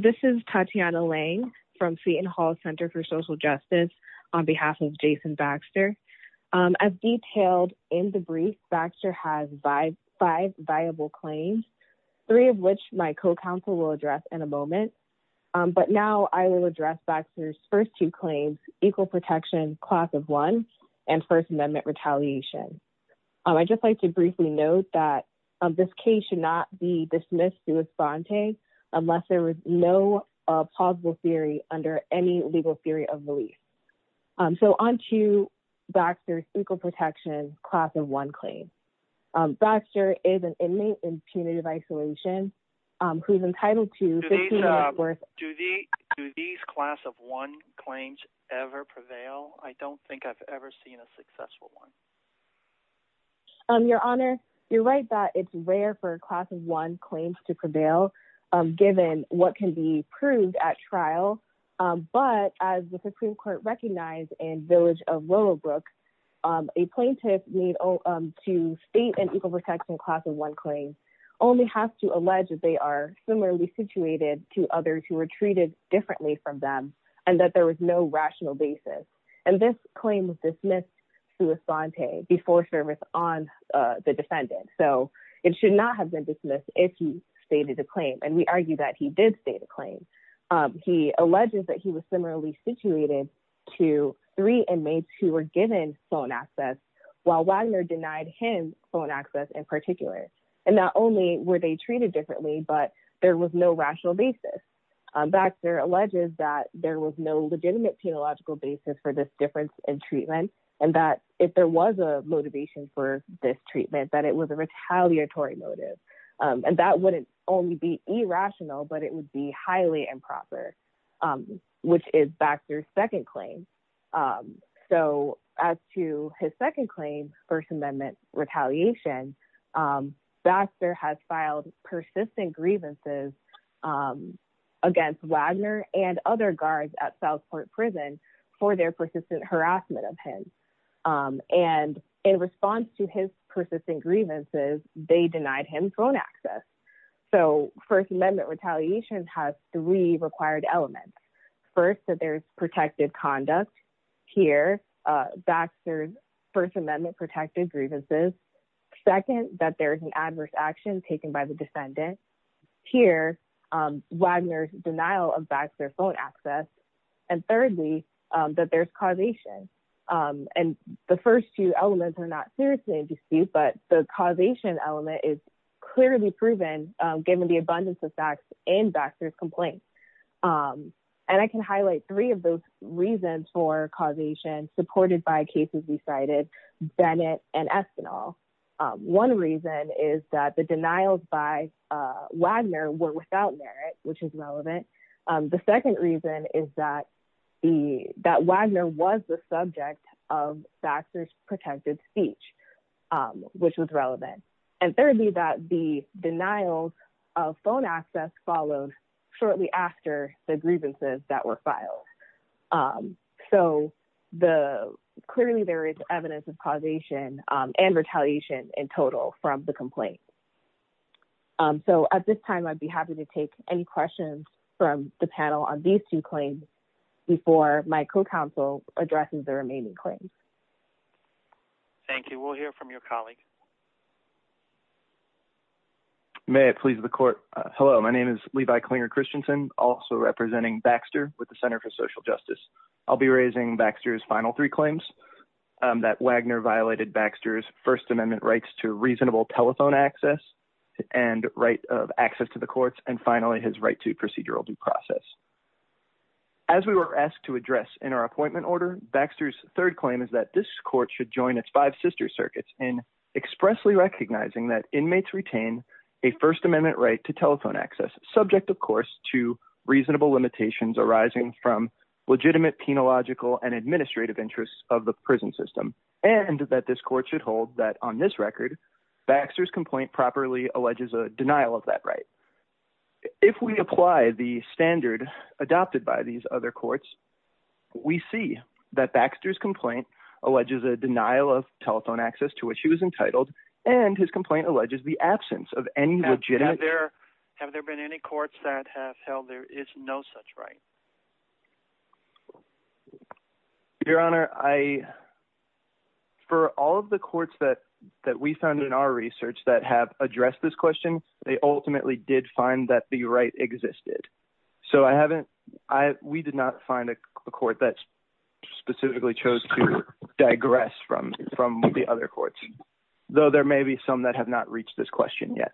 This is Tatiana Lange from Seton Hall Center for Social Justice on behalf of Jason Baxter. As detailed in the brief, Baxter has five viable claims, three of which my co-counsel will address in a moment. But now I will address Baxter's first two claims, equal protection class of one, and First Amendment retaliation. I'd just like to briefly note that this case should not be dismissed through a sponte unless there is no plausible theory under any legal theory of release. So on to Baxter's equal protection class of one claim. Baxter is an inmate in punitive isolation who is entitled to 15 years' worth of— Jason Baxter Do these class of one claims ever prevail? I don't think I've ever seen a successful one. Tatiana Lange Your Honor, you're right that it's rare for class of one claims to prevail given what can be proved at trial. But as the Supreme Court recognized in Village of Willowbrook, a plaintiff to state an equal protection class of one claim only has to allege that they are similarly situated to And this claim was dismissed through a sponte before service on the defendant. So it should not have been dismissed if he stated a claim. And we argue that he did state a claim. He alleges that he was similarly situated to three inmates who were given phone access while Wagner denied him phone access in particular. And not only were they treated differently, but there was no rational basis. Baxter alleges that there was no legitimate penological basis for this difference in treatment and that if there was a motivation for this treatment, that it was a retaliatory motive. And that wouldn't only be irrational, but it would be highly improper, which is Baxter's second claim. So as to his second claim, First Amendment retaliation, Baxter has filed persistent grievances against Wagner and other guards at Southport Prison for their persistent harassment of him. And in response to his persistent grievances, they denied him phone access. So First Amendment retaliation has three required elements. First, that there's protected conduct here, Baxter's First Amendment protected grievances. Second, that there is an adverse action taken by the defendant. Here, Wagner's denial of Baxter phone access. And thirdly, that there's causation. And the first two elements are not seriously in dispute, but the causation element is clearly proven given the abundance of facts in Baxter's complaint. And I can highlight three of those reasons for causation supported by cases we cited, Bennett and Espinal. One reason is that the denials by Wagner were without merit, which is relevant. The second reason is that Wagner was the subject of Baxter's protected speech, which was relevant. And thirdly, that the denials of phone access followed shortly after the grievances that were filed. So the clearly there is evidence of causation and retaliation in total from the complaint. So at this time, I'd be happy to take any questions from the panel on these two claims before my co-counsel addresses the remaining claims. Thank you. We'll hear from your colleague. May it please the court. Hello, my name is Levi Klinger Christensen, also representing Baxter with the Center for Social Justice. I'll be raising Baxter's final three claims that Wagner violated Baxter's First Amendment rights to reasonable telephone access and right of access to the courts. And finally, his right to procedural due process. As we were asked to address in our appointment order, Baxter's third claim is that this court should join its five sister circuits in expressly recognizing that inmates retain a First Amendment right to telephone access, subject, of course, to reasonable limitations arising from legitimate penological and administrative interests of the prison system, and that this court should hold that on this record, Baxter's complaint properly alleges a denial of that right. If we apply the standard adopted by these other courts, we see that Baxter's complaint alleges a denial of telephone access to which he was entitled, and his complaint alleges the absence of any legitimate there. Have there been any courts that have held there is no such right? Your Honor, I. For all of the courts that that we found in our research that have addressed this question, they ultimately did find that the right existed. So I haven't I we did not find a court that specifically chose to digress from from the other courts, though there may be some that have not reached this question yet.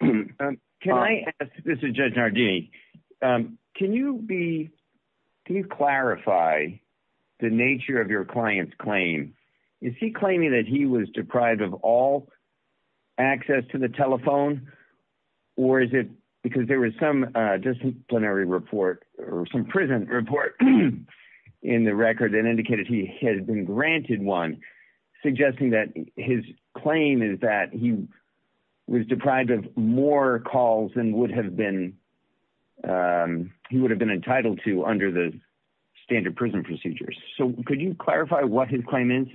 Thank you. Can I ask? This is Judge Nardini. Can you be can you clarify the nature of your client's claim? Is he claiming that he was deprived of all access to the telephone? Or is it because there was some disciplinary report or some prison report in the record that indicated he has been granted one, suggesting that his claim is that he was deprived of more calls than would have been? He would have been entitled to under the standard prison procedures. So could you clarify what his claim is?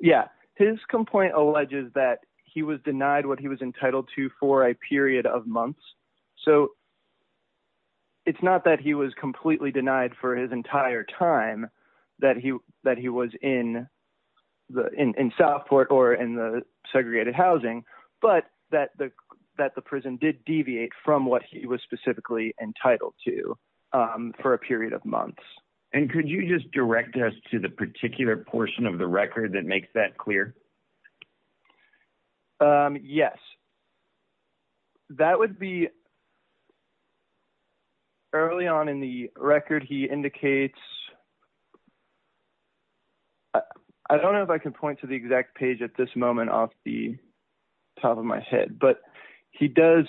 Yeah, his complaint alleges that he was denied what he was entitled to for a period of months. So it's not that he was completely denied for his entire time that he that he was in the in Southport or in the segregated housing, but that the that the prison did deviate from what he was specifically entitled to for a period of months. And could you just direct us to the particular portion of the record that makes that clear? Yes, that would be early on in the record. He indicates. I don't know if I can point to the exact page at this moment off the top of my head, but he does.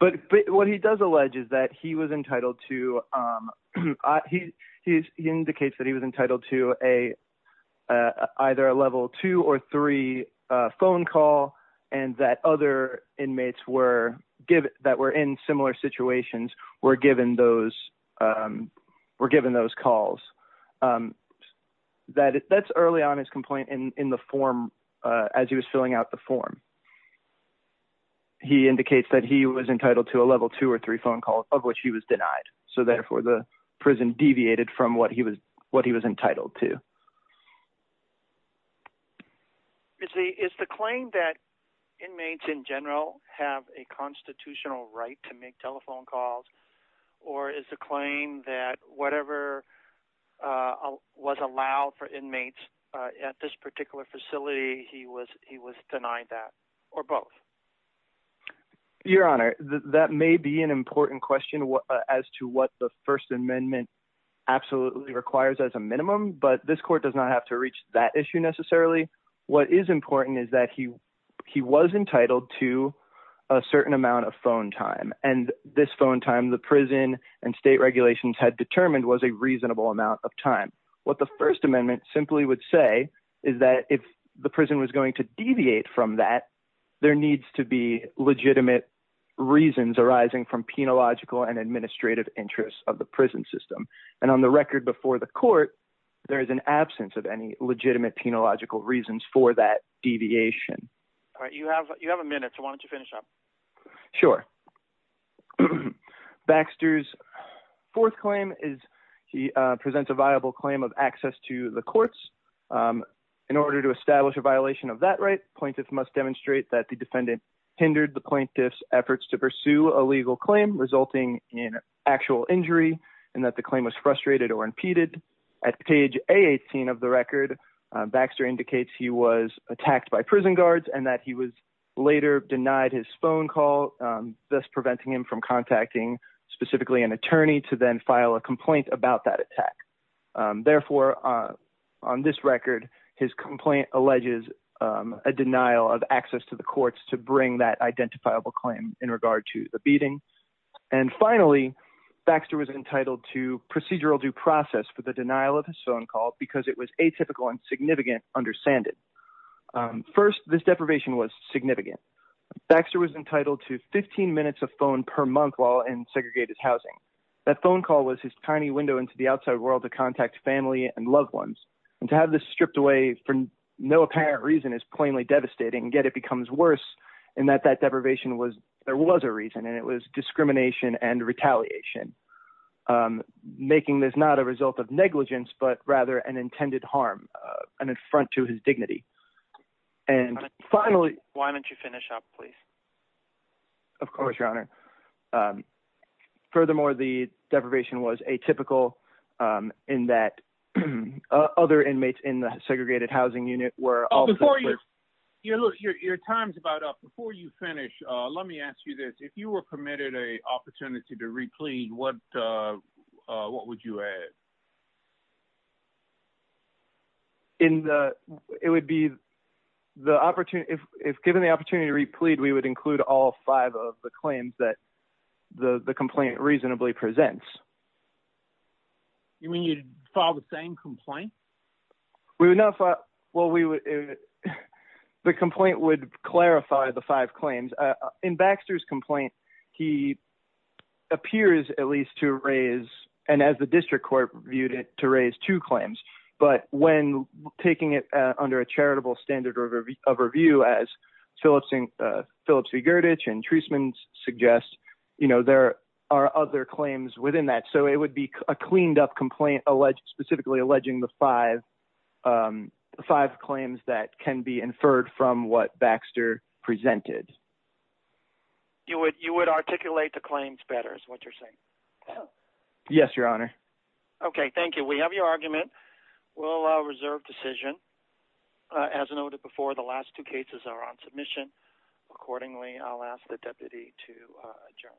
But what he does allege is that he was entitled to he indicates that he was entitled to a either a level two or three phone call and that other inmates were given that were in similar situations were given those were given those calls that that's early on his complaint in the form as he was filling out the form. He indicates that he was entitled to a level two or three phone calls of which he was denied. So therefore, the prison deviated from what he was what he was entitled to. Is the claim that inmates in general have a constitutional right to make telephone calls? Or is the claim that whatever was allowed for inmates at this particular facility, he was he was denied that or both? Your Honor, that may be an important question as to what the First Amendment absolutely requires as a minimum, but this court does not have to reach that issue necessarily. What is important is that he he was entitled to a certain amount of phone time and this phone the prison and state regulations had determined was a reasonable amount of time. What the First Amendment simply would say is that if the prison was going to deviate from that, there needs to be legitimate reasons arising from penological and administrative interests of the prison system. And on the record before the court, there is an absence of any legitimate penological reasons for that deviation. All right, you have you have a minute. Why don't you finish up? Sure. Baxter's fourth claim is he presents a viable claim of access to the courts. In order to establish a violation of that right, plaintiffs must demonstrate that the defendant hindered the plaintiff's efforts to pursue a legal claim resulting in actual injury and that the claim was frustrated or impeded. At page A18 of the record, Baxter indicates he was attacked by prison guards and that he was thus preventing him from contacting specifically an attorney to then file a complaint about that attack. Therefore, on this record, his complaint alleges a denial of access to the courts to bring that identifiable claim in regard to the beating. And finally, Baxter was entitled to procedural due process for the denial of his phone call because it was atypical and significant, understand it. First, this deprivation was significant. Baxter was entitled to 15 minutes of phone per month while in segregated housing. That phone call was his tiny window into the outside world to contact family and loved ones. And to have this stripped away for no apparent reason is plainly devastating. Yet it becomes worse in that that deprivation was there was a reason and it was discrimination and retaliation, making this not a result of negligence, but rather an intended harm, an affront to his dignity. And finally, why don't you finish up, please? Of course, your honor. Furthermore, the deprivation was atypical in that other inmates in the segregated housing unit were all before you. Your time's about up before you finish. Let me ask you this. If you were permitted a opportunity to replead, what what would you add? In the it would be the opportunity if given the opportunity to replead, we would include all five of the claims that the complaint reasonably presents. You mean you'd file the same complaint? We would not. Well, we would. The complaint would clarify the five claims in Baxter's complaint. He appears at least to raise and as the district court viewed it to raise two claims. But when taking it under a charitable standard of review, as Philipson, Philipsy, Gurditch and Treisman suggest, you know, there are other claims within that. So it would be a cleaned up complaint alleged specifically alleging the five, five claims that can be inferred from what Baxter presented. You would you would articulate the claims better is what you're saying. Yes, your honor. Okay, thank you. We have your argument. We'll reserve decision. As noted before, the last two cases are on submission. Accordingly, I'll ask the deputy to adjourn.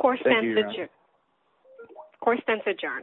Of course, sense of John.